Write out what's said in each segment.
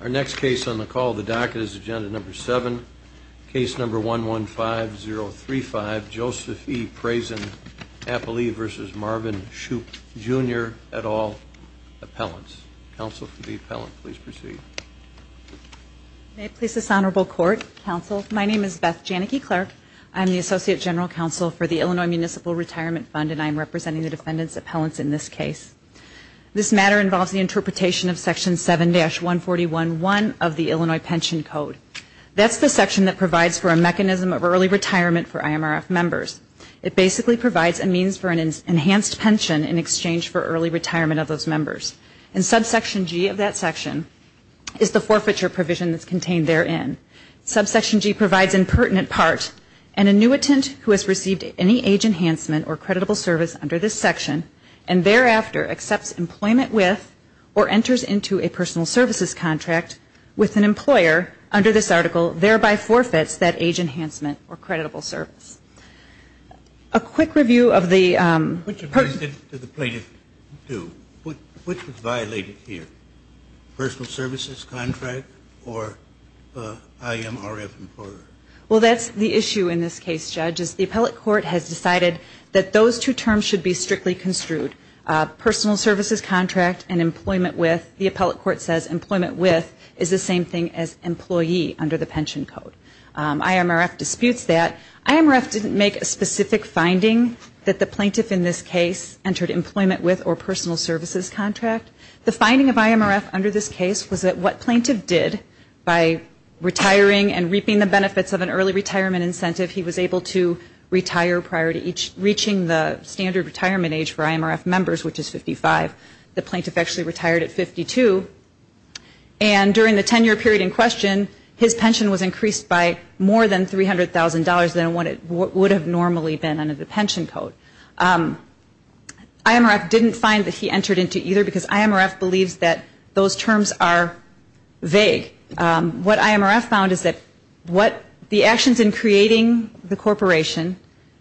Our next case on the call of the docket is agenda number 7, case number 115035, Joseph E. Prazen Appley v. Marvin Shoop Jr. et al. Appellants. Counsel for the Appellant, please proceed. May it please this Honorable Court, Counsel, my name is Beth Janicki Clark. I am the Associate General Counsel for the Illinois Municipal Retirement Fund and I am representing the Defendant's Appellants in this case. This matter involves the interpretation of Section 7-141.1 of the Illinois Pension Code. That's the section that provides for a mechanism of early retirement for IMRF members. It basically provides a means for an enhanced pension in exchange for early retirement of those members. And Subsection G of that section is the forfeiture provision that's contained therein. Subsection G provides, in pertinent part, an annuitant who has received any age enhancement or creditable service under this section and thereafter accepts employment with or enters into a personal services contract with an employer under this article, thereby forfeits that age enhancement or creditable service. A quick review of the person- Which of these did the plaintiff do? Which was violated here, personal services contract or IMRF employer? Well, that's the issue in this case, Judge, is the appellate court has decided that those two terms should be strictly construed, personal services contract and employment with. The appellate court says employment with is the same thing as employee under the pension code. IMRF disputes that. IMRF didn't make a specific finding that the plaintiff in this case entered employment with or personal services contract. The finding of IMRF under this case was that what plaintiff did by retiring and reaping the benefits of an early retirement incentive, he was able to retire prior to reaching the standard retirement age for IMRF members, which is 55. The plaintiff actually retired at 52. And during the 10-year period in question, his pension was increased by more than $300,000 than what it would have normally been under the pension code. IMRF didn't find that he entered into either because IMRF believes that those terms are vague. What IMRF found is that what the actions in creating the corporation,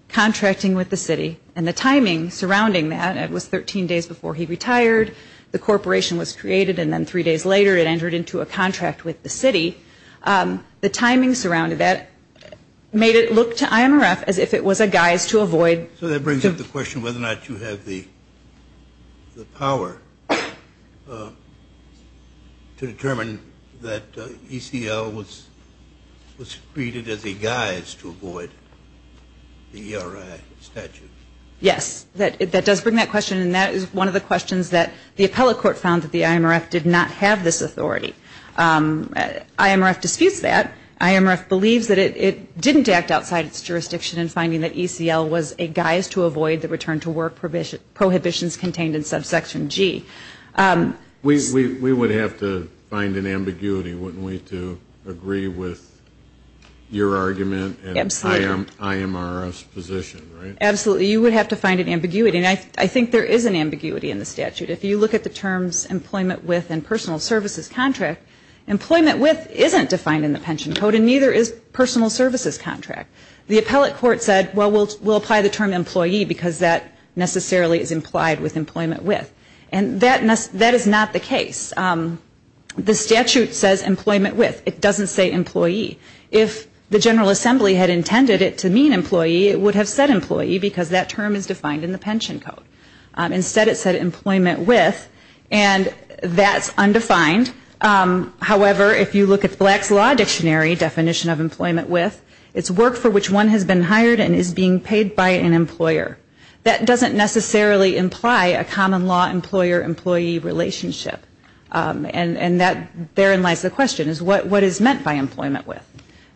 contracting with the city, and the timing surrounding that, it was 13 days before he retired, the corporation was created, and then three days later it entered into a contract with the city. The timing surrounding that made it look to IMRF as if it was a guise to avoid. So that brings up the question whether or not you have the power to determine that ECL was created as a guise to avoid the ERI statute. Yes. That does bring that question, and that is one of the questions that the appellate court found that the IMRF did not have this authority. IMRF disputes that. IMRF believes that it didn't act outside its jurisdiction in finding that ECL was a guise to avoid the return to work prohibitions contained in subsection G. We would have to find an ambiguity, wouldn't we, to agree with your argument and IMRF's position, right? Absolutely. You would have to find an ambiguity, and I think there is an ambiguity in the statute. If you look at the terms employment with and personal services contract, employment with isn't defined in the pension code, and neither is personal services contract. The appellate court said, well, we'll apply the term employee because that necessarily is implied with employment with. And that is not the case. The statute says employment with. It doesn't say employee. If the General Assembly had intended it to mean employee, it would have said employee because that term is defined in the pension code. Instead, it said employment with, and that's undefined. However, if you look at the Black's Law Dictionary definition of employment with, it's work for which one has been hired and is being paid by an employer. That doesn't necessarily imply a common law employer-employee relationship. And that, therein lies the question, is what is meant by employment with?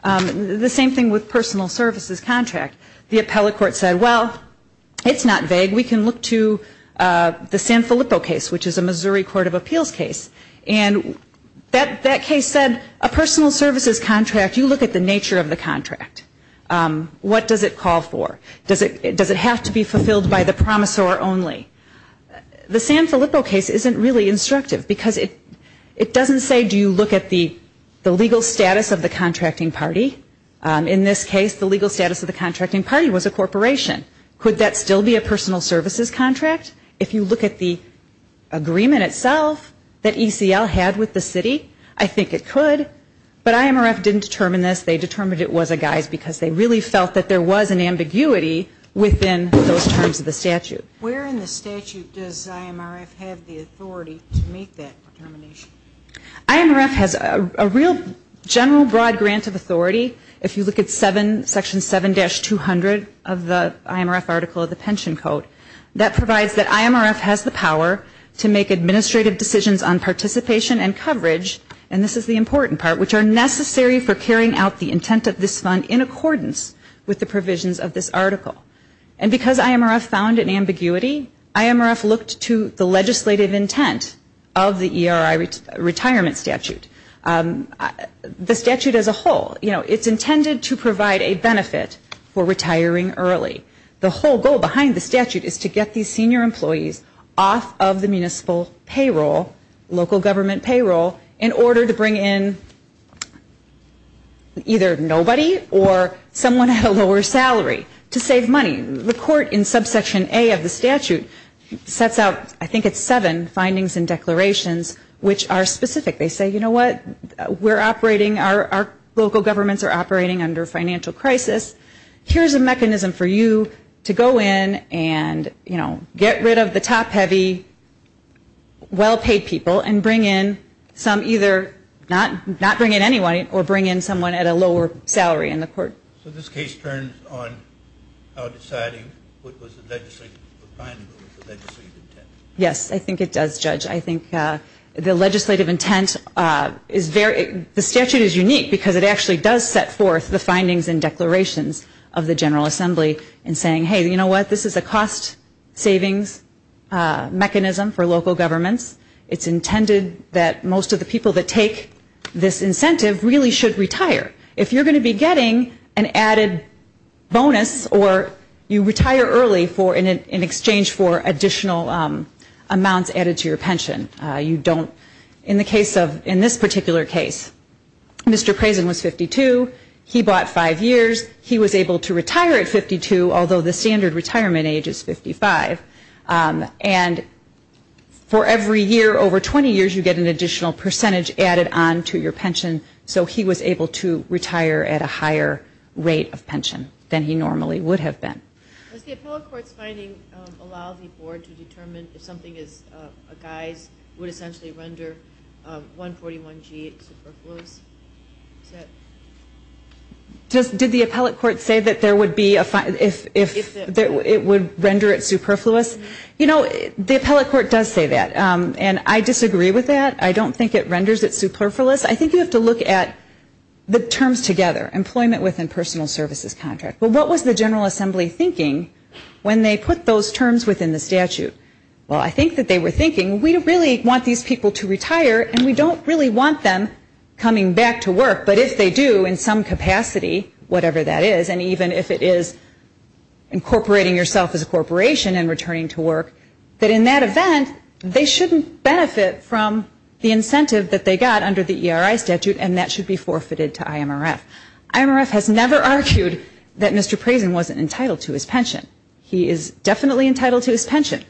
The same thing with personal services contract. The appellate court said, well, it's not vague. We can look to the San Filippo case, which is a Missouri Court of Appeals case. And that case said a personal services contract, you look at the nature of the contract. What does it call for? Does it have to be fulfilled by the promissor only? The San Filippo case isn't really instructive because it doesn't say do you look at the legal status of the contracting party. In this case, the legal status of the contracting party was a corporation. Could that still be a personal services contract? If you look at the agreement itself that ECL had with the city, I think it could. But IMRF didn't determine this. They determined it was a guise because they really felt that there was an ambiguity within those terms of the statute. Where in the statute does IMRF have the authority to make that determination? IMRF has a real general broad grant of authority. If you look at section 7-200 of the IMRF article of the pension code, that provides that IMRF has the power to make administrative decisions on participation and coverage, and this is the important part, which are necessary for carrying out the intent of this fund in accordance with the provisions of this article. And because IMRF found an ambiguity, IMRF looked to the legislative intent of the ERI retirement statute. The statute as a whole, you know, it's intended to provide a benefit for retiring early. The whole goal behind the statute is to get these senior employees off of the municipal payroll, local government payroll, in order to bring in either nobody or someone at a lower salary to save money. The court in subsection A of the statute sets out, I think it's seven findings and declarations which are specific. They say, you know what, we're operating, our local governments are operating under financial crisis. Here's a mechanism for you to go in and, you know, get rid of the top heavy, well-paid people and bring in some either, not bring in anyone, or bring in someone at a lower salary in the court. So this case turns on how deciding what was the legislative intent. Yes, I think it does, Judge. I think the legislative intent is very, the statute is unique because it actually does set forth the findings and declarations of the General Assembly in saying, hey, you know what, this is a cost savings mechanism for local governments. It's intended that most of the people that take this incentive really should retire. If you're going to be getting an added bonus or you retire early in exchange for additional amounts added to your pension, you don't, in the case of, in this particular case, Mr. Crazen was 52. He bought five years. He was able to retire at 52, although the standard retirement age is 55. And for every year over 20 years, you get an additional percentage added on to your pension, so he was able to retire at a higher rate of pension than he normally would have been. Does the appellate court's finding allow the board to determine if something is a guise, would essentially render 141G superfluous? Did the appellate court say that there would be a, if it would render it superfluous? You know, the appellate court does say that, and I disagree with that. I don't think it renders it superfluous. I think you have to look at the terms together, employment within personal services contract. But what was the General Assembly thinking when they put those terms within the statute? Well, I think that they were thinking, we really want these people to retire and we don't really want them coming back to work, but if they do in some capacity, whatever that is, and even if it is incorporating yourself as a corporation and returning to work, that in that event, they shouldn't benefit from the incentive that they got under the ERI statute and that should be forfeited to IMRF. IMRF has never argued that Mr. Crazen wasn't entitled to his pension. He is definitely entitled to his pension.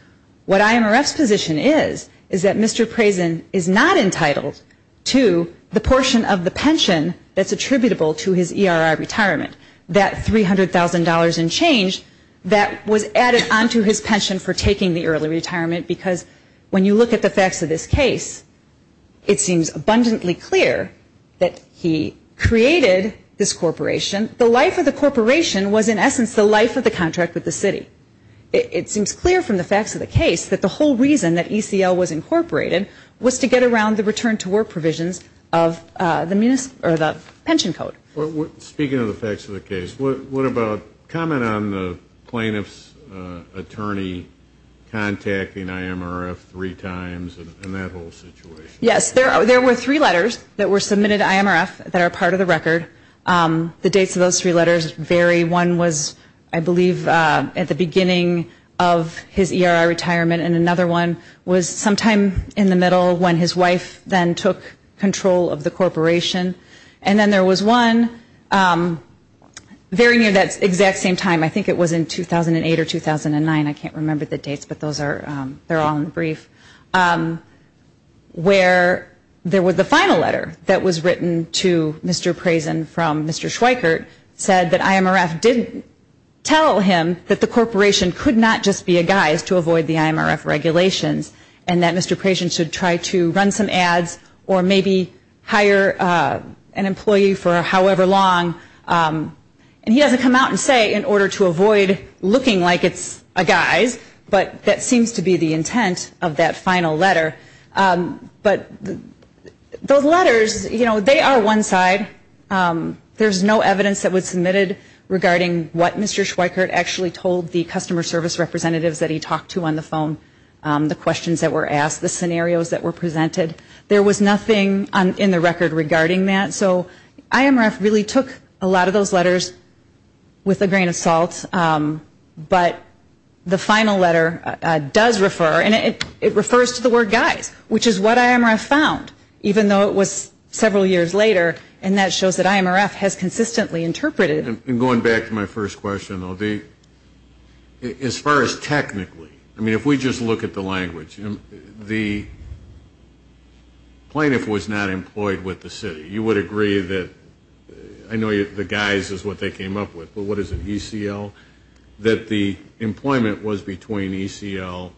What IMRF's position is, is that Mr. Crazen is not entitled to the portion of the pension that's attributable to his ERI retirement. That $300,000 and change, that was added onto his pension for taking the early retirement because when you look at the facts of this case, it seems abundantly clear that he created this corporation. The life of the corporation was in essence the life of the contract with the city. It seems clear from the facts of the case that the whole reason that ECL was incorporated was to get around the return to work provisions of the pension code. Speaking of the facts of the case, what about comment on the plaintiff's attorney contacting IMRF three times and that whole situation? Yes, there were three letters that were submitted to IMRF that are part of the record. The dates of those three letters vary. One was, I believe, at the beginning of his ERI retirement and another one was sometime in the middle when his wife then took control of the corporation. And then there was one very near that exact same time. I think it was in 2008 or 2009. I can't remember the dates, but those are all in the brief. Where there was the final letter that was written to Mr. Crazen from Mr. Schweikert said that IMRF didn't tell him that the corporation could not just be a guise to avoid the IMRF regulations and that Mr. Crazen should try to run some ads or maybe hire an employee for however long. And he doesn't come out and say in order to avoid looking like it's a guise, but that seems to be the intent of that final letter. But those letters, you know, they are one side. There's no evidence that was submitted regarding what Mr. Schweikert actually told the customer service representatives that he talked to on the phone, the questions that were asked, the scenarios that were presented. There was nothing in the record regarding that. So IMRF really took a lot of those letters with a grain of salt. But the final letter does refer, and it refers to the word guise, which is what IMRF found, even though it was several years later, and that shows that IMRF has consistently interpreted. And going back to my first question, though, as far as technically, I mean, if we just look at the language, the plaintiff was not employed with the city. You would agree that I know the guise is what they came up with, but what is it, ECL? That the employment was between ECL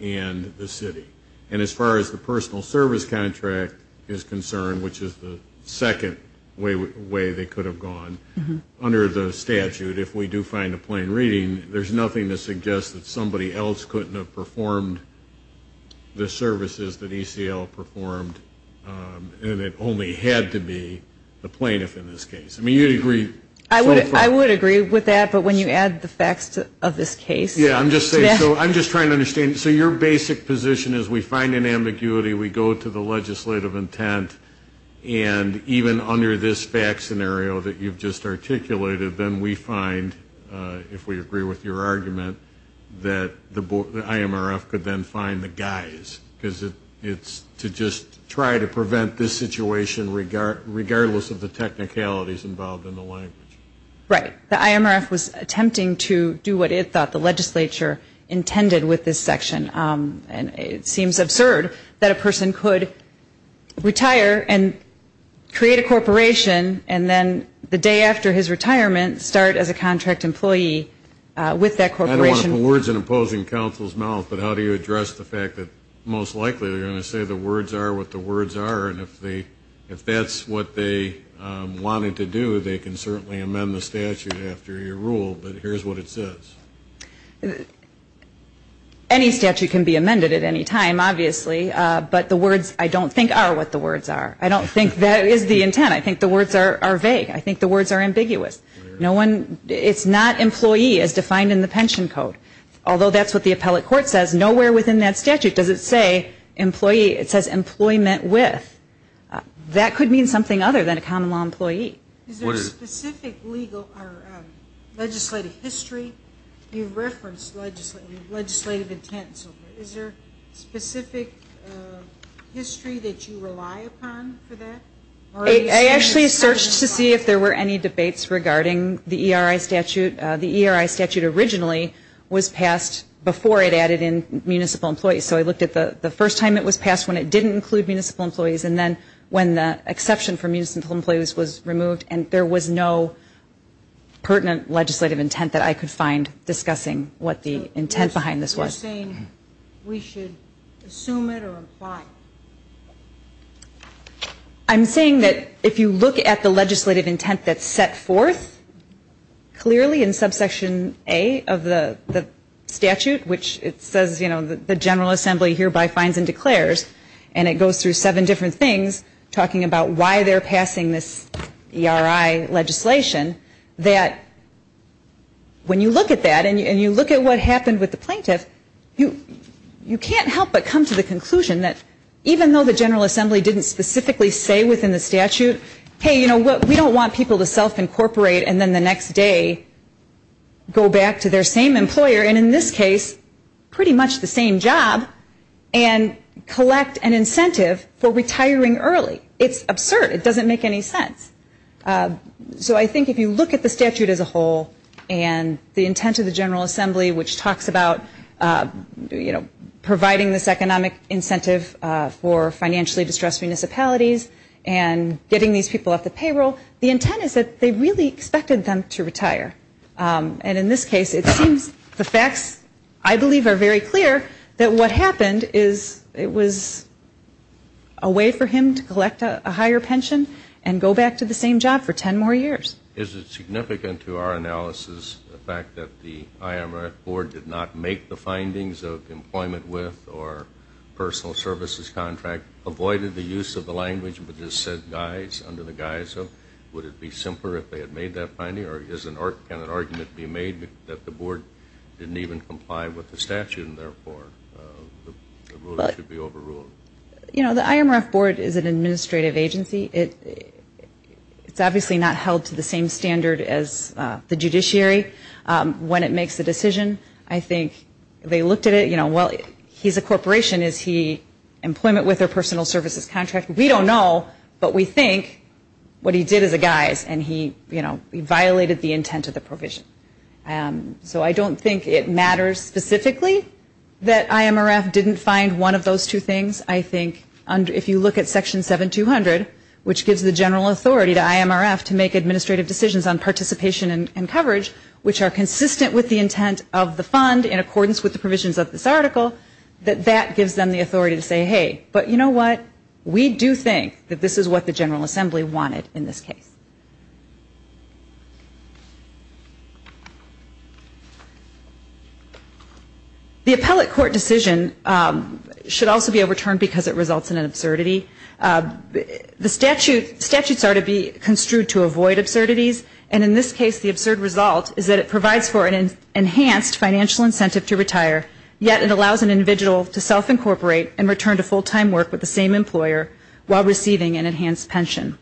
and the city. And as far as the personal service contract is concerned, which is the second way they could have gone, under the statute, if we do find a plain reading, there's nothing to suggest that somebody else couldn't have performed the services that ECL performed, and it only had to be the plaintiff in this case. I mean, you'd agree. I would agree with that, but when you add the facts of this case. Yeah, I'm just trying to understand. So your basic position is we find an ambiguity, we go to the legislative intent, and even under this fact scenario that you've just articulated, then we find, if we agree with your argument, that the IMRF could then find the guise, because it's to just try to prevent this situation regardless of the technicalities involved in the language. Right. The IMRF was attempting to do what it thought the legislature intended with this section, and it seems absurd that a person could retire and create a corporation and then the day after his retirement start as a contract employee with that corporation. I don't want to put words in opposing counsel's mouth, but how do you address the fact that most likely they're going to say the words are what the words are, and if that's what they wanted to do, they can certainly amend the statute after your rule, but here's what it says. Any statute can be amended at any time, obviously, but the words I don't think are what the words are. I don't think that is the intent. I think the words are vague. I think the words are ambiguous. It's not employee as defined in the pension code, although that's what the appellate court says. Nowhere within that statute does it say employee. It says employment with. That could mean something other than a common law employee. Is there a specific legislative history you've referenced legislative intent? Is there a specific history that you rely upon for that? I actually searched to see if there were any debates regarding the ERI statute. The ERI statute originally was passed before it added in municipal employees, so I looked at the first time it was passed when it didn't include municipal employees and then when the exception for municipal employees was removed, and there was no pertinent legislative intent that I could find discussing what the intent behind this was. You're saying we should assume it or imply it? I'm saying that if you look at the legislative intent that's set forth clearly in subsection A of the statute, which it says, you know, the General Assembly hereby finds and declares, and it goes through seven different things talking about why they're passing this ERI legislation, that when you look at that and you look at what happened with the plaintiff, you can't help but come to the conclusion that even though the General Assembly didn't specifically say within the statute, hey, you know what, we don't want people to self-incorporate and then the next day go back to their same employer, and in this case pretty much the same job, and collect an incentive for retiring early. It's absurd. It doesn't make any sense. So I think if you look at the statute as a whole and the intent of the General Assembly, which talks about, you know, providing this economic incentive for financially distressed municipalities and getting these people off the payroll, the intent is that they really expected them to retire, and in this case it seems the facts, I believe, are very clear that what happened is it was a way for him to collect a higher pension and go back to the same job for ten more years. Is it significant to our analysis the fact that the IMRF board did not make the findings of employment with or personal services contract, avoided the use of the language, but just said guys under the guise of, would it be simpler if they had made that finding, or can an argument be made that the board didn't even comply with the statute and therefore the rule should be overruled? You know, the IMRF board is an administrative agency. It's obviously not held to the same standard as the judiciary when it makes a decision. I think they looked at it, you know, well, he's a corporation. Is he employment with or personal services contract? We don't know, but we think what he did is a guise, and he, you know, he violated the intent of the provision. So I don't think it matters specifically that IMRF didn't find one of those two things. I think if you look at Section 7200, which gives the general authority to IMRF to make administrative decisions on participation and coverage, which are consistent with the intent of the fund in accordance with the provisions of this article, that that gives them the authority to say, hey, but you know what? We do think that this is what the General Assembly wanted in this case. The appellate court decision should also be overturned because it results in an absurdity. The statutes are to be construed to avoid absurdities, and in this case the absurd result is that it provides for an enhanced financial incentive to retire, yet it allows an individual to self-incorporate and return to full-time work with the same employer while receiving an enhanced pension.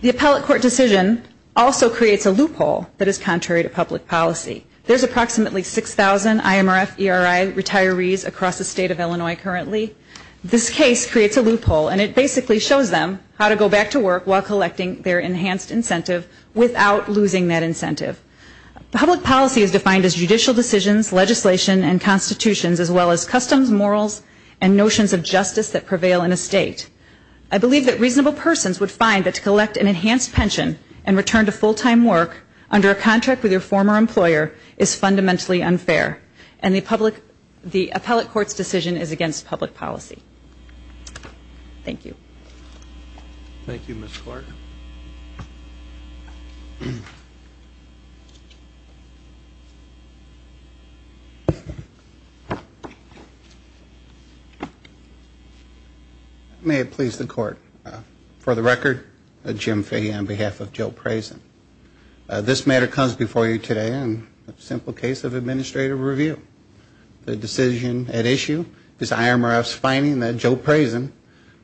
The appellate court decision also creates a loophole that is contrary to public policy. There's approximately 6,000 IMRF ERI retirees across the state of Illinois currently. This case creates a loophole, and it basically shows them how to go back to work while collecting their enhanced incentive without losing that incentive. Public policy is defined as judicial decisions, legislation, and constitutions, as well as customs, morals, and notions of justice that prevail in a state. I believe that reasonable persons would find that to collect an enhanced pension and return to full-time work under a contract with your former employer is fundamentally unfair, and the appellate court's decision is against public policy. Thank you. Thank you, Ms. Clark. Thank you. May it please the Court. For the record, Jim Fahey on behalf of Joe Prasin. This matter comes before you today on a simple case of administrative review. The decision at issue is IMRF's finding that Joe Prasin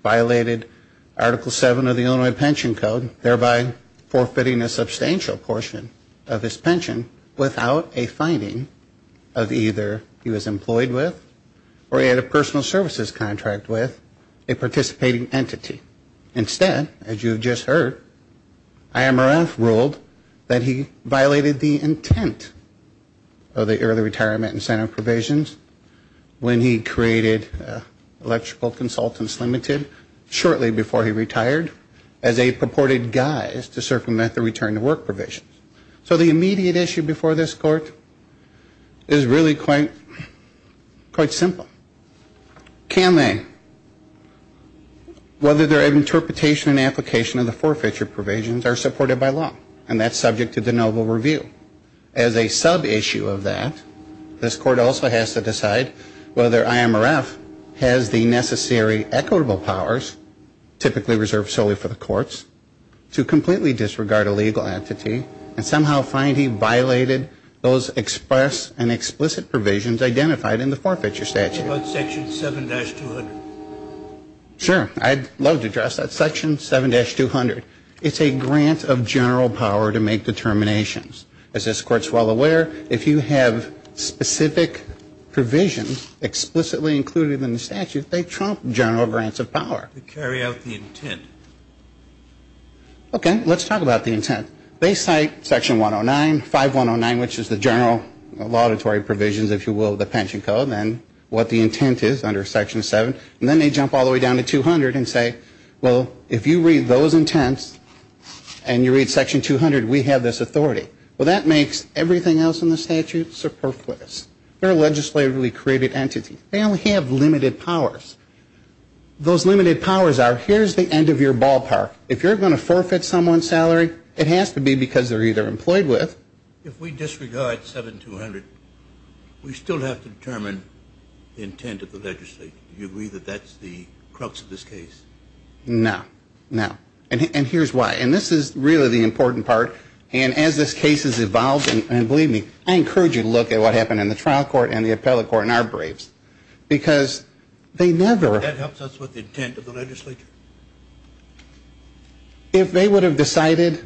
violated Article 7 of the Illinois Pension Code, thereby forfeiting a substantial portion of his pension without a finding of either he was employed with or he had a personal services contract with a participating entity. Instead, as you have just heard, IMRF ruled that he violated the intent of the early retirement incentive provisions when he created Electrical Consultants Limited shortly before he retired as a purported guise to circumvent the return to work provisions. So the immediate issue before this Court is really quite simple. Can they? Whether their interpretation and application of the forfeiture provisions are supported by law, and that's subject to the noble review. As a sub-issue of that, this Court also has to decide whether IMRF has the necessary equitable powers, typically reserved solely for the courts, to completely disregard a legal entity and somehow find he violated those express and explicit provisions identified in the forfeiture statute. What about Section 7-200? Sure. I'd love to address that. Section 7-200, it's a grant of general power to make determinations. As this Court's well aware, if you have specific provisions explicitly included in the statute, they trump general grants of power. They carry out the intent. Okay. Let's talk about the intent. They cite Section 109, 5109, which is the general auditory provisions, if you will, the pension code, and what the intent is under Section 7. And then they jump all the way down to 200 and say, well, if you read those intents and you read Section 200, we have this authority. Well, that makes everything else in the statute superfluous. They're a legislatively created entity. They only have limited powers. Those limited powers are here's the end of your ballpark. If you're going to forfeit someone's salary, it has to be because they're either employed with. If we disregard 7-200, we still have to determine the intent of the legislature. Do you agree that that's the crux of this case? No. No. And here's why. And this is really the important part. And as this case has evolved, and believe me, I encourage you to look at what happened in the trial court and the appellate court and our briefs. Because they never ---- That helps us with the intent of the legislature. If they would have decided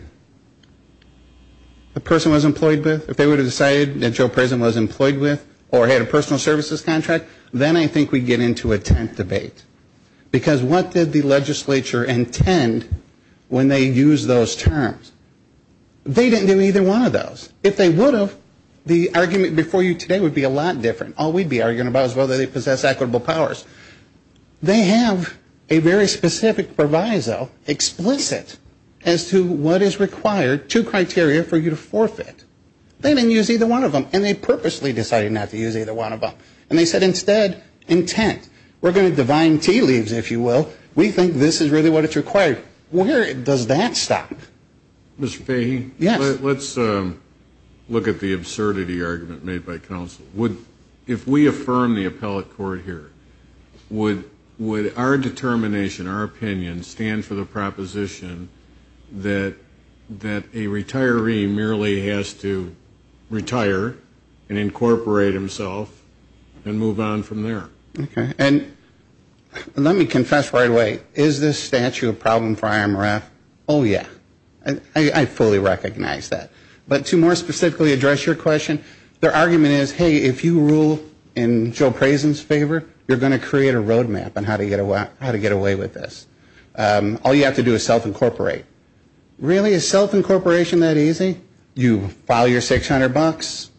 the person was employed with, if they would have decided that Joe Prezen was employed with or had a personal services contract, then I think we'd get into a tent debate. Because what did the legislature intend when they used those terms? They didn't do either one of those. If they would have, the argument before you today would be a lot different. All we'd be arguing about is whether they possess equitable powers. They have a very specific proviso, explicit, as to what is required, two criteria for you to forfeit. They didn't use either one of them. And they purposely decided not to use either one of them. And they said, instead, intent. We're going to divine tea leaves, if you will. We think this is really what it's required. Where does that stop? Mr. Fahy? Yes. Let's look at the absurdity argument made by counsel. Would, if we affirm the appellate court here, would our determination, our opinion, stand for the proposition that a retiree merely has to retire and incorporate himself and move on from there? Okay. And let me confess right away, is this statute a problem for IMRF? Oh, yeah. I fully recognize that. But to more specifically address your question, their argument is, hey, if you rule in Joe Prasin's favor, you're going to create a road map on how to get away with this. All you have to do is self-incorporate. Really? Is self-incorporation that easy? You file your $600,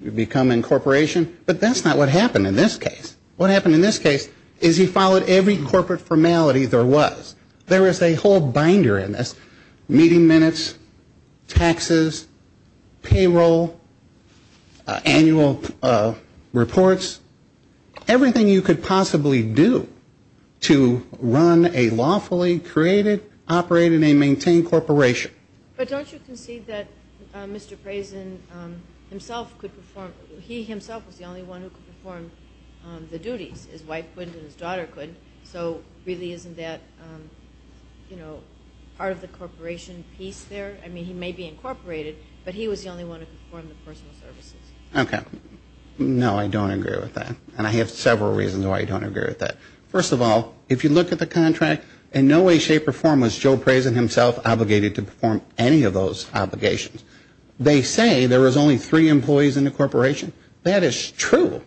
you become incorporation. But that's not what happened in this case. What happened in this case is he followed every corporate formality there was. There is a whole binder in this, meeting minutes, taxes, payroll, annual reports, everything you could possibly do to run a lawfully created, operated and maintained corporation. But don't you concede that Mr. Prasin himself could perform, he himself was the only one who could perform the duties? His wife couldn't and his daughter couldn't. So really isn't that, you know, part of the corporation piece there? I mean, he may be incorporated, but he was the only one who could perform the personal services. Okay. No, I don't agree with that. And I have several reasons why I don't agree with that. First of all, if you look at the contract, in no way, shape or form was Joe Prasin himself obligated to perform any of those obligations. They say there was only three employees in the corporation. That is true.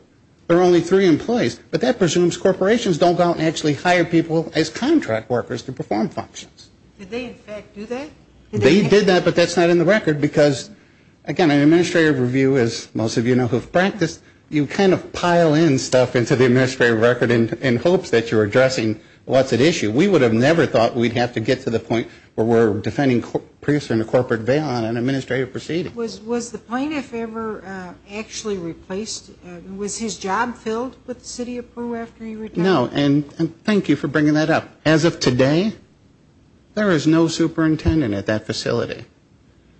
There were only three employees. But that presumes corporations don't go out and actually hire people as contract workers to perform functions. Did they in fact do that? They did that, but that's not in the record. Because, again, an administrative review, as most of you know who have practiced, you kind of pile in stuff into the administrative record in hopes that you're addressing what's at issue. We would have never thought we'd have to get to the point where we're defending Prasin in a corporate bail on an administrative proceeding. Was the plaintiff ever actually replaced? Was his job filled with the city of Peru after he retired? No. And thank you for bringing that up. As of today, there is no superintendent at that facility.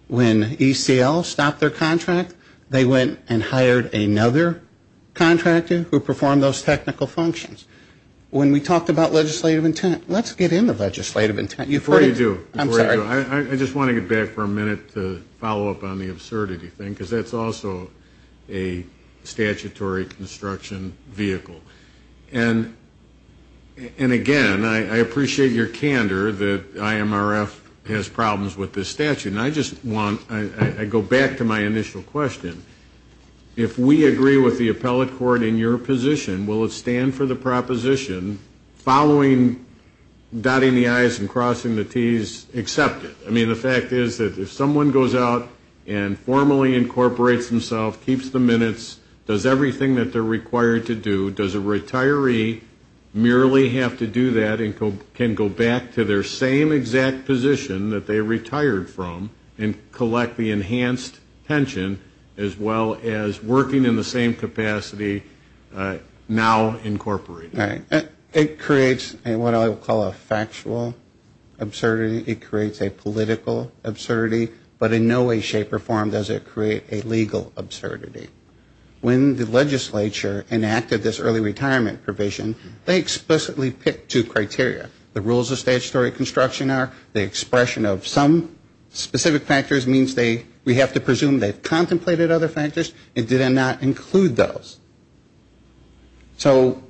When ECL stopped their contract, they went and hired another contractor who performed those technical functions. When we talked about legislative intent, let's get into legislative intent. Before you do. I'm sorry. Before you do, I just want to get back for a minute to follow up on the absurdity thing, because that's also a statutory construction vehicle. And, again, I appreciate your candor that IMRF has problems with this statute. And I just want to go back to my initial question. If we agree with the appellate court in your position, will it stand for the proposition, following dotting the I's and crossing the T's, accept it? I mean, the fact is that if someone goes out and formally incorporates themselves, keeps the minutes, does everything that they're required to do, does a retiree merely have to do that and can go back to their same exact position that they retired from and collect the enhanced pension as well as working in the same capacity now incorporated? Right. It creates what I would call a factual absurdity. It creates a political absurdity. But in no way, shape, or form does it create a legal absurdity. When the legislature enacted this early retirement provision, they explicitly picked two criteria. The rules of statutory construction are the expression of some specific factors means we have to presume they've contemplated other factors and did not include those. So,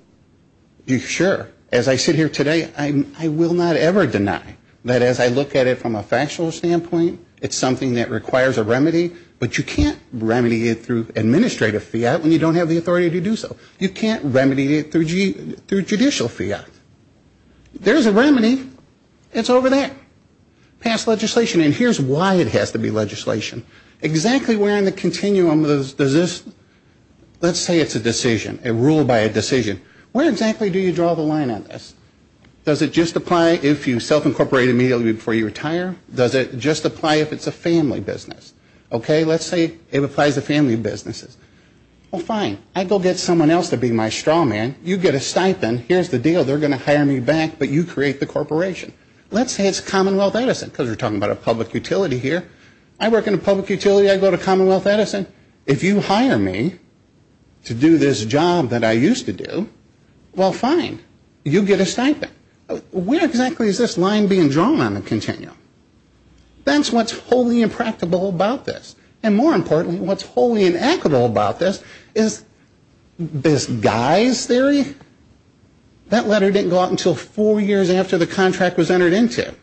sure, as I sit here today, I will not ever deny that as I look at it from a factual standpoint, it's something that requires a remedy, but you can't remedy it through administrative fiat when you don't have the authority to do so. You can't remedy it through judicial fiat. There's a remedy. It's over there. Pass legislation. And here's why it has to be legislation. Exactly where in the continuum does this, let's say it's a decision, a rule by a decision, where exactly do you draw the line on this? Does it just apply if you self-incorporate immediately before you retire? Does it just apply if it's a family business? Okay, let's say it applies to family businesses. Well, fine, I go get someone else to be my straw man. You get a stipend. Here's the deal. They're going to hire me back, but you create the corporation. Let's say it's Commonwealth Edison because we're talking about a public utility here. I work in a public utility. I go to Commonwealth Edison. If you hire me to do this job that I used to do, well, fine, you get a stipend. Where exactly is this line being drawn on the continuum? That's what's wholly impractical about this. And more importantly, what's wholly inequitable about this is this guy's theory. That letter didn't go out until four years after the contract was entered into.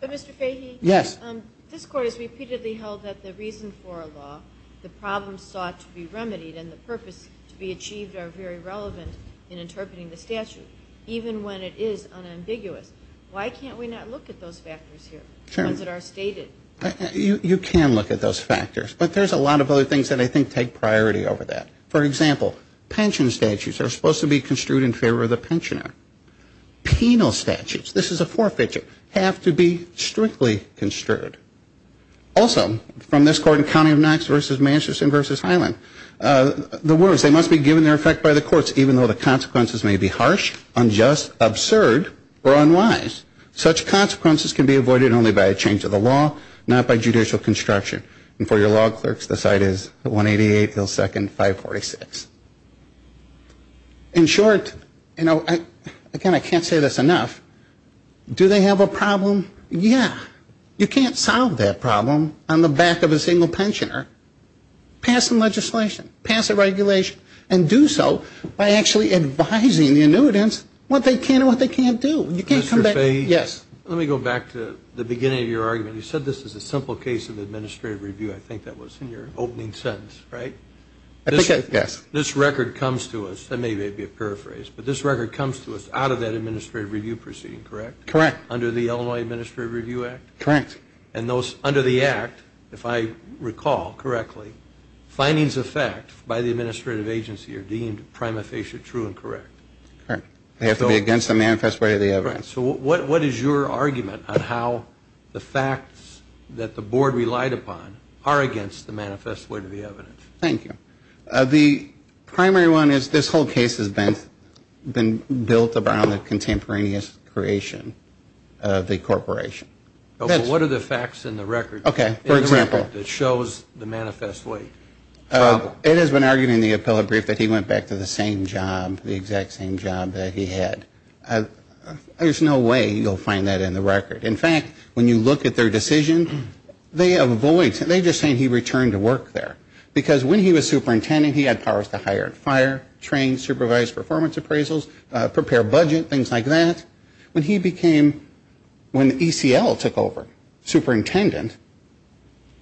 But, Mr. Fahy? Yes. This Court has repeatedly held that the reason for a law, the problem sought to be remedied, and the purpose to be achieved are very relevant in interpreting the statute, even when it is unambiguous. Why can't we not look at those factors here, ones that are stated? You can look at those factors. But there's a lot of other things that I think take priority over that. For example, pension statutes are supposed to be construed in favor of the pensioner. Penal statutes, this is a forfeiture, have to be strictly construed. Also, from this Court in County of Knox versus Manchester versus Highland, the words, they must be given their effect by the courts, even though the consequences may be harsh, unjust, absurd, or unwise. Such consequences can be avoided only by a change of the law, not by judicial construction. And for your law clerks, the site is 188 Hill Second, 546. In short, you know, again, I can't say this enough. Do they have a problem? Yeah. You can't solve that problem on the back of a single pensioner. Pass some legislation. Pass a regulation. And do so by actually advising the annuitants what they can and what they can't do. Mr. Fay, let me go back to the beginning of your argument. You said this is a simple case of administrative review. I think that was in your opening sentence, right? Yes. This record comes to us, and maybe it would be a paraphrase, but this record comes to us out of that administrative review proceeding, correct? Correct. Under the Illinois Administrative Review Act? Correct. And under the Act, if I recall correctly, findings of fact by the administrative agency are deemed prima facie true and correct. Correct. They have to be against the manifest weight of the evidence. So what is your argument on how the facts that the board relied upon are against the manifest weight of the evidence? Thank you. The primary one is this whole case has been built around the contemporaneous creation of the corporation. What are the facts in the record that shows the manifest weight? It has been argued in the appellate brief that he went back to the same job, the exact same job that he had. There's no way you'll find that in the record. In fact, when you look at their decision, they avoid it. They're just saying he returned to work there. Because when he was superintendent, he had powers to hire and fire, train, supervise performance appraisals, prepare budget, things like that. When he became, when ECL took over, superintendent,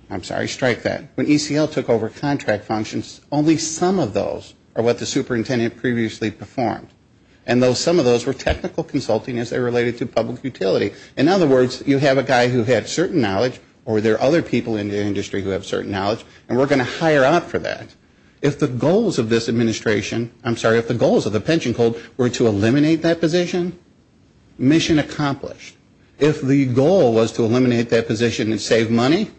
I'm sorry, strike that. When ECL took over contract functions, only some of those are what the superintendent previously performed. And some of those were technical consulting as they related to public utility. In other words, you have a guy who had certain knowledge, or there are other people in the industry who have certain knowledge, and we're going to hire out for that. If the goals of this administration, I'm sorry, if the goals of the pension code were to eliminate that position, mission accomplished. If the goal was to eliminate that position and save money,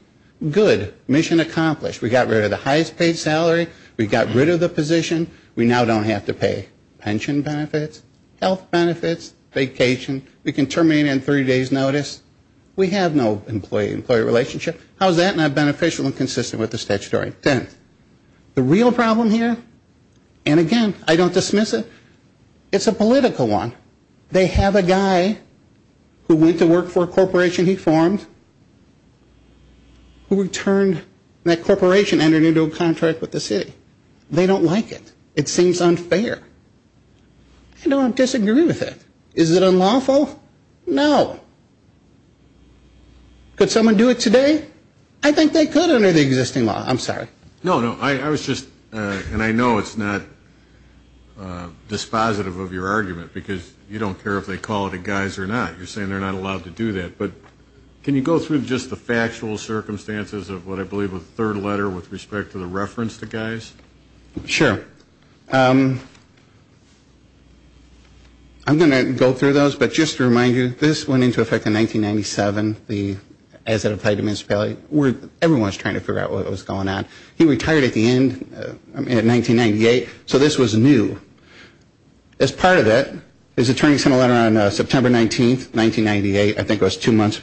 good, mission accomplished. We got rid of the highest paid salary. We got rid of the position. We now don't have to pay pension benefits, health benefits, vacation. We can terminate on a three-day's notice. We have no employee-employee relationship. How is that not beneficial and consistent with the statutory intent? The real problem here, and again, I don't dismiss it, it's a political one. They have a guy who went to work for a corporation he formed who returned that corporation and entered into a contract with the city. They don't like it. It seems unfair. I don't disagree with it. Is it unlawful? No. Could someone do it today? I think they could under the existing law. I'm sorry. No, no. I was just, and I know it's not dispositive of your argument because you don't care if they call it a guys or not. You're saying they're not allowed to do that. But can you go through just the factual circumstances of what I believe was the third letter with respect to the reference to guys? Sure. I'm going to go through those. But just to remind you, this went into effect in 1997 as it applied to municipality. Everyone was trying to figure out what was going on. He retired at the end, I mean, in 1998. So this was new. As part of that, his attorney sent a letter on September 19th, 1998. I think it was two months.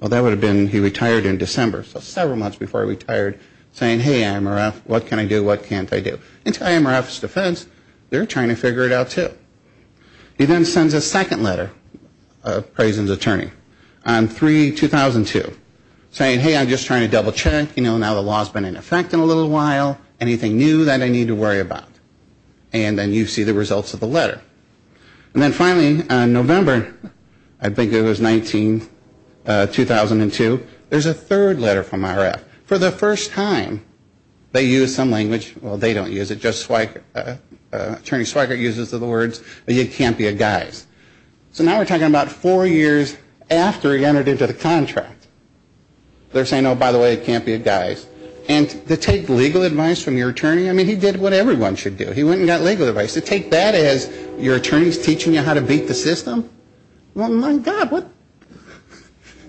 Well, that would have been, he retired in December. So several months before he retired saying, hey, IMRF, what can I do, what can't I do? And to IMRF's defense, they're trying to figure it out, too. He then sends a second letter, Prazen's attorney, on 3-2002, saying, hey, I'm just trying to double check. You know, now the law's been in effect in a little while. Anything new that I need to worry about? And then you see the results of the letter. And then finally, in November, I think it was 19-2002, there's a third letter from IMRF. For the first time, they use some language. Well, they don't use it. Attorney Schweikert uses the words, you can't be a guise. So now we're talking about four years after he entered into the contract. They're saying, oh, by the way, you can't be a guise. And to take legal advice from your attorney? I mean, he did what everyone should do. He went and got legal advice. To take that as your attorney's teaching you how to beat the system? Well, my God,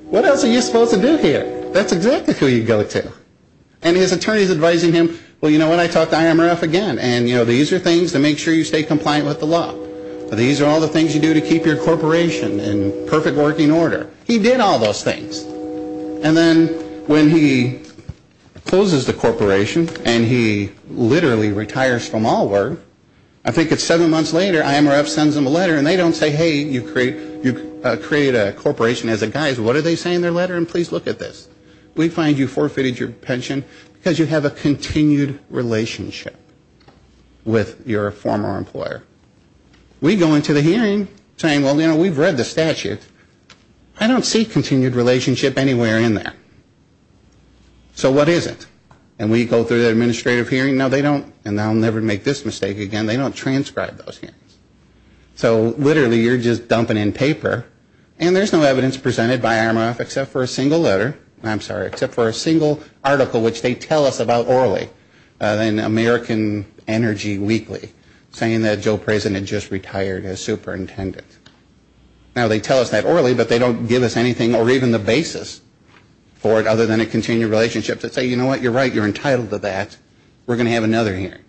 what else are you supposed to do here? That's exactly who you go to. And his attorney's advising him, well, you know what, I talked to IMRF again. And, you know, these are things to make sure you stay compliant with the law. These are all the things you do to keep your corporation in perfect working order. He did all those things. And then when he closes the corporation and he literally retires from all work, I think it's seven months later, IMRF sends him a letter, and they don't say, hey, you create a corporation as a guise. What are they saying in their letter? And please look at this. We find you forfeited your pension because you have a continued relationship with your former employer. We go into the hearing saying, well, you know, we've read the statute. I don't see continued relationship anywhere in there. So what is it? And we go through the administrative hearing. No, they don't, and I'll never make this mistake again, they don't transcribe those hearings. So literally you're just dumping in paper, and there's no evidence presented by IMRF except for a single letter, I'm sorry, except for a single article which they tell us about orally in American Energy Weekly saying that Joe Prezen had just retired as superintendent. Now, they tell us that orally, but they don't give us anything or even the basis for it other than a continued relationship that say, you know what, you're right, you're entitled to that. We're going to have another hearing.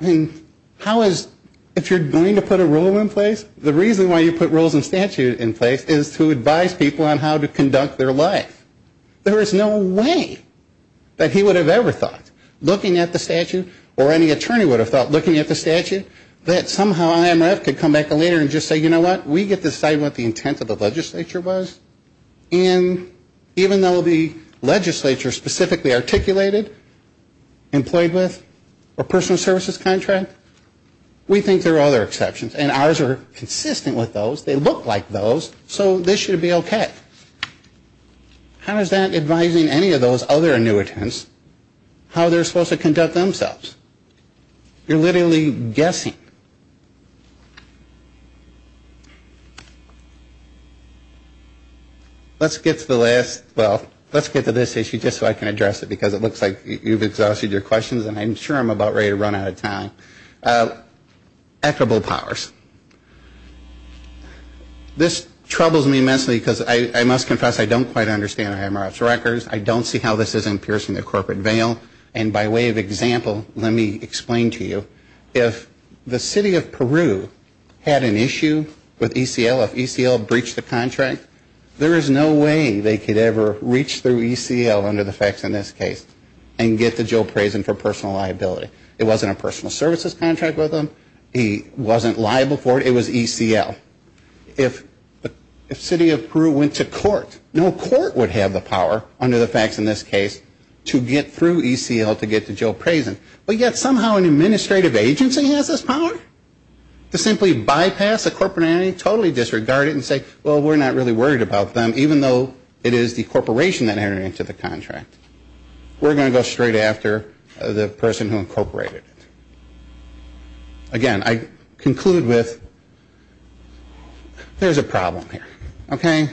I mean, how is, if you're going to put a rule in place, the reason why you put rules and statute in place is to advise people on how to conduct their life. There is no way that he would have ever thought, looking at the statute, or any attorney would have thought looking at the statute, that somehow IMRF could come back a letter and just say, you know what, we get to decide what the intent of the legislature was, and even though the legislature specifically articulated employed with a personal services contract, we think there are other exceptions, and ours are consistent with those. They look like those, so this should be okay. How is that advising any of those other annuitants how they're supposed to conduct themselves? You're literally guessing. Let's get to the last, well, let's get to this issue just so I can address it because it looks like you've exhausted your questions, and I'm sure I'm about ready to run out of time. Equitable powers. This troubles me immensely because I must confess, I don't quite understand IMRF's records. I don't see how this isn't piercing the corporate veil, and by way of example, let me explain to you. If the city of Peru had an issue with ECL, if ECL breached the contract, there is no way they could ever reach through ECL under the facts in this case and get to Joe Prasin for personal liability. It wasn't a personal services contract with him. He wasn't liable for it. It was ECL. If the city of Peru went to court, no court would have the power under the facts in this case to get through ECL to get to Joe Prasin, but yet somehow an administrative agency has this power? To simply bypass a corporate entity, totally disregard it and say, well, we're not really worried about them, even though it is the corporation that entered into the contract. We're going to go straight after the person who incorporated it. Again, I conclude with there's a problem here, okay?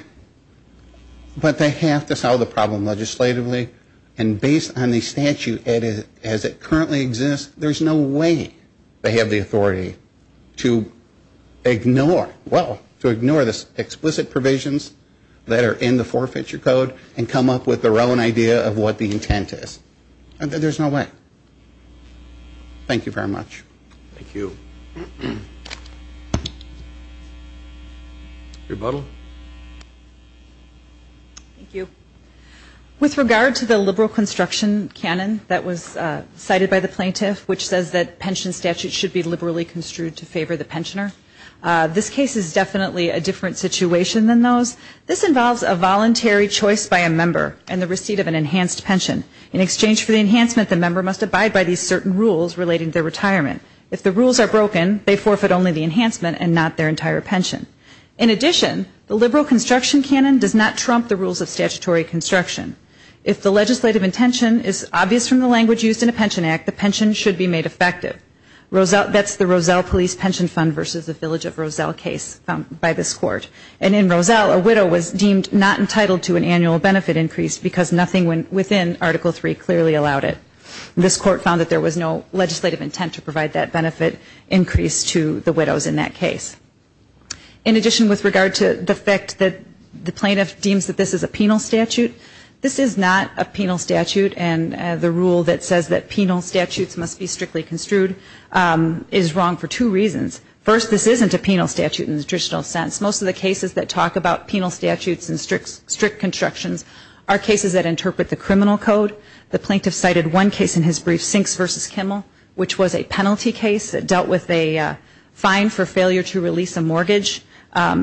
But they have to solve the problem legislatively, and based on the statute as it currently exists, there's no way they have the authority to ignore this explicit provisions that are in the forfeiture code and come up with their own idea of what the intent is. There's no way. Thank you very much. Rebuttal. Thank you. With regard to the liberal construction canon that was cited by the plaintiff, which says that pension statutes should be liberally construed to favor the pensioner, this case is definitely a different situation than those. This involves a voluntary choice by a member and the receipt of an enhanced pension. In exchange for the enhancement, the member must abide by these certain rules relating to their retirement. If the rules are broken, they forfeit only the enhancement and not their entire pension. In addition, the liberal construction canon does not trump the rules of statutory construction. If the legislative intention is obvious from the language used in a pension act, the pension should be made effective. That's the Roselle Police Pension Fund versus the Village of Roselle case found by this court. And in Roselle, a widow was deemed not entitled to an annual benefit increase because nothing within Article III clearly allowed it. This court found that there was no legislative intent to provide that benefit increase to the widows in that case. In addition, with regard to the fact that the plaintiff deems that this is a penal statute, this is not a penal statute, and the rule that says that penal statutes must be strictly construed is wrong for two reasons. First, this isn't a penal statute in the traditional sense. Most of the cases that talk about penal statutes and strict constructions are cases that interpret the criminal code. The plaintiff cited one case in his brief, Sinks v. Kimmel, which was a penalty case that dealt with a fine for failure to release a mortgage.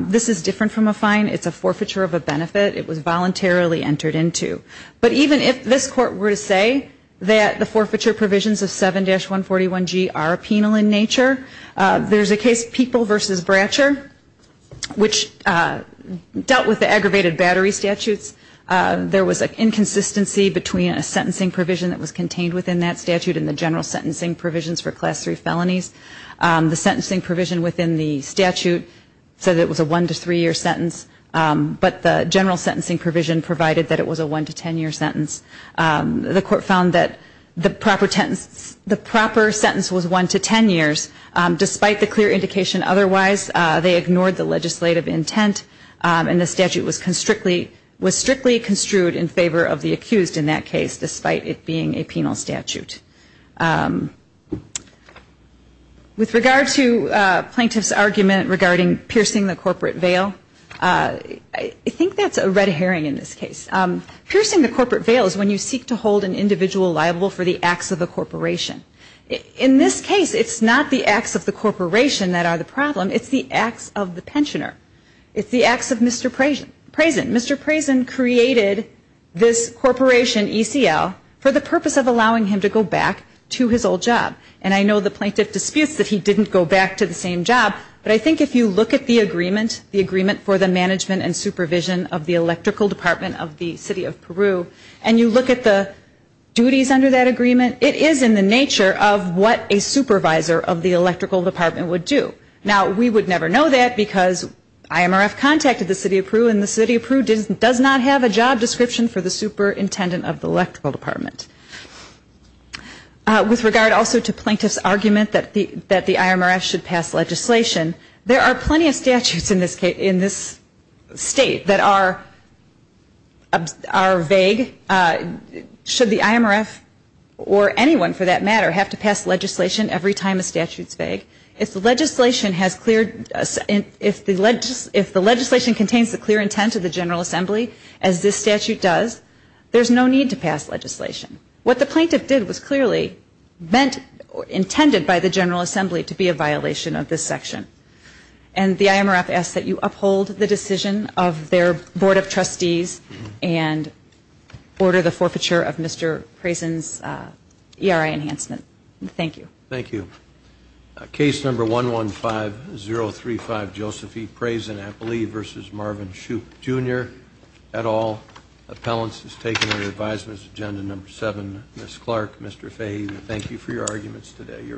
This is different from a fine. It's a forfeiture of a benefit. It was voluntarily entered into. But even if this court were to say that the forfeiture provisions of 7-141G are penal in nature, there's a case, People v. Bratcher, which dealt with the aggravated battery statutes. There was an inconsistency between a sentencing provision that was contained within that statute and the general sentencing provisions for Class III felonies. The sentencing provision within the statute said it was a 1-3 year sentence, but the general sentencing provision provided that it was a 1-10 year sentence. The court found that the proper sentence was 1-10 years. Despite the clear indication otherwise, they ignored the legislative intent, and the statute was strictly construed in favor of the accused in that case, despite it being a penal statute. With regard to plaintiff's argument regarding piercing the corporate veil, I think that's a red herring in this case. Piercing the corporate veil is when you seek to hold an individual liable for the acts of a corporation. In this case, it's not the acts of the corporation that are the problem. It's the acts of the pensioner. It's the acts of Mr. Preysen. Mr. Preysen created this corporation, ECL, for the purpose of allowing him to go back to his old job. And I know the plaintiff disputes that he didn't go back to the same job, but I think if you look at the agreement, the agreement for the management and supervision of the Electrical Department of the City of Peru, and you look at the duties under that agreement, it is in the nature of what a supervisor of the Electrical Department would do. Now, we would never know that because IMRF contacted the City of Peru, and the City of Peru does not have a job description for the superintendent of the Electrical Department. With regard also to plaintiff's argument that the IMRF should pass legislation, there are plenty of statutes in this state that are vague. Should the IMRF, or anyone for that matter, have to pass legislation every time a statute is vague? If the legislation contains the clear intent of the General Assembly, as this statute does, there's no need to pass legislation. What the plaintiff did was clearly meant or intended by the General Assembly to be a violation of this section. And the IMRF asks that you uphold the decision of their Board of Trustees and order the forfeiture of Mr. Preysen's ERI enhancement. Thank you. Thank you. Case number 115-035, Joseph E. Preysen, I believe, versus Marvin Shoup, Jr., et al. Appellants is taken under the advisements agenda number 7. Ms. Clark, Mr. Fahey, thank you for your arguments today. You're excused.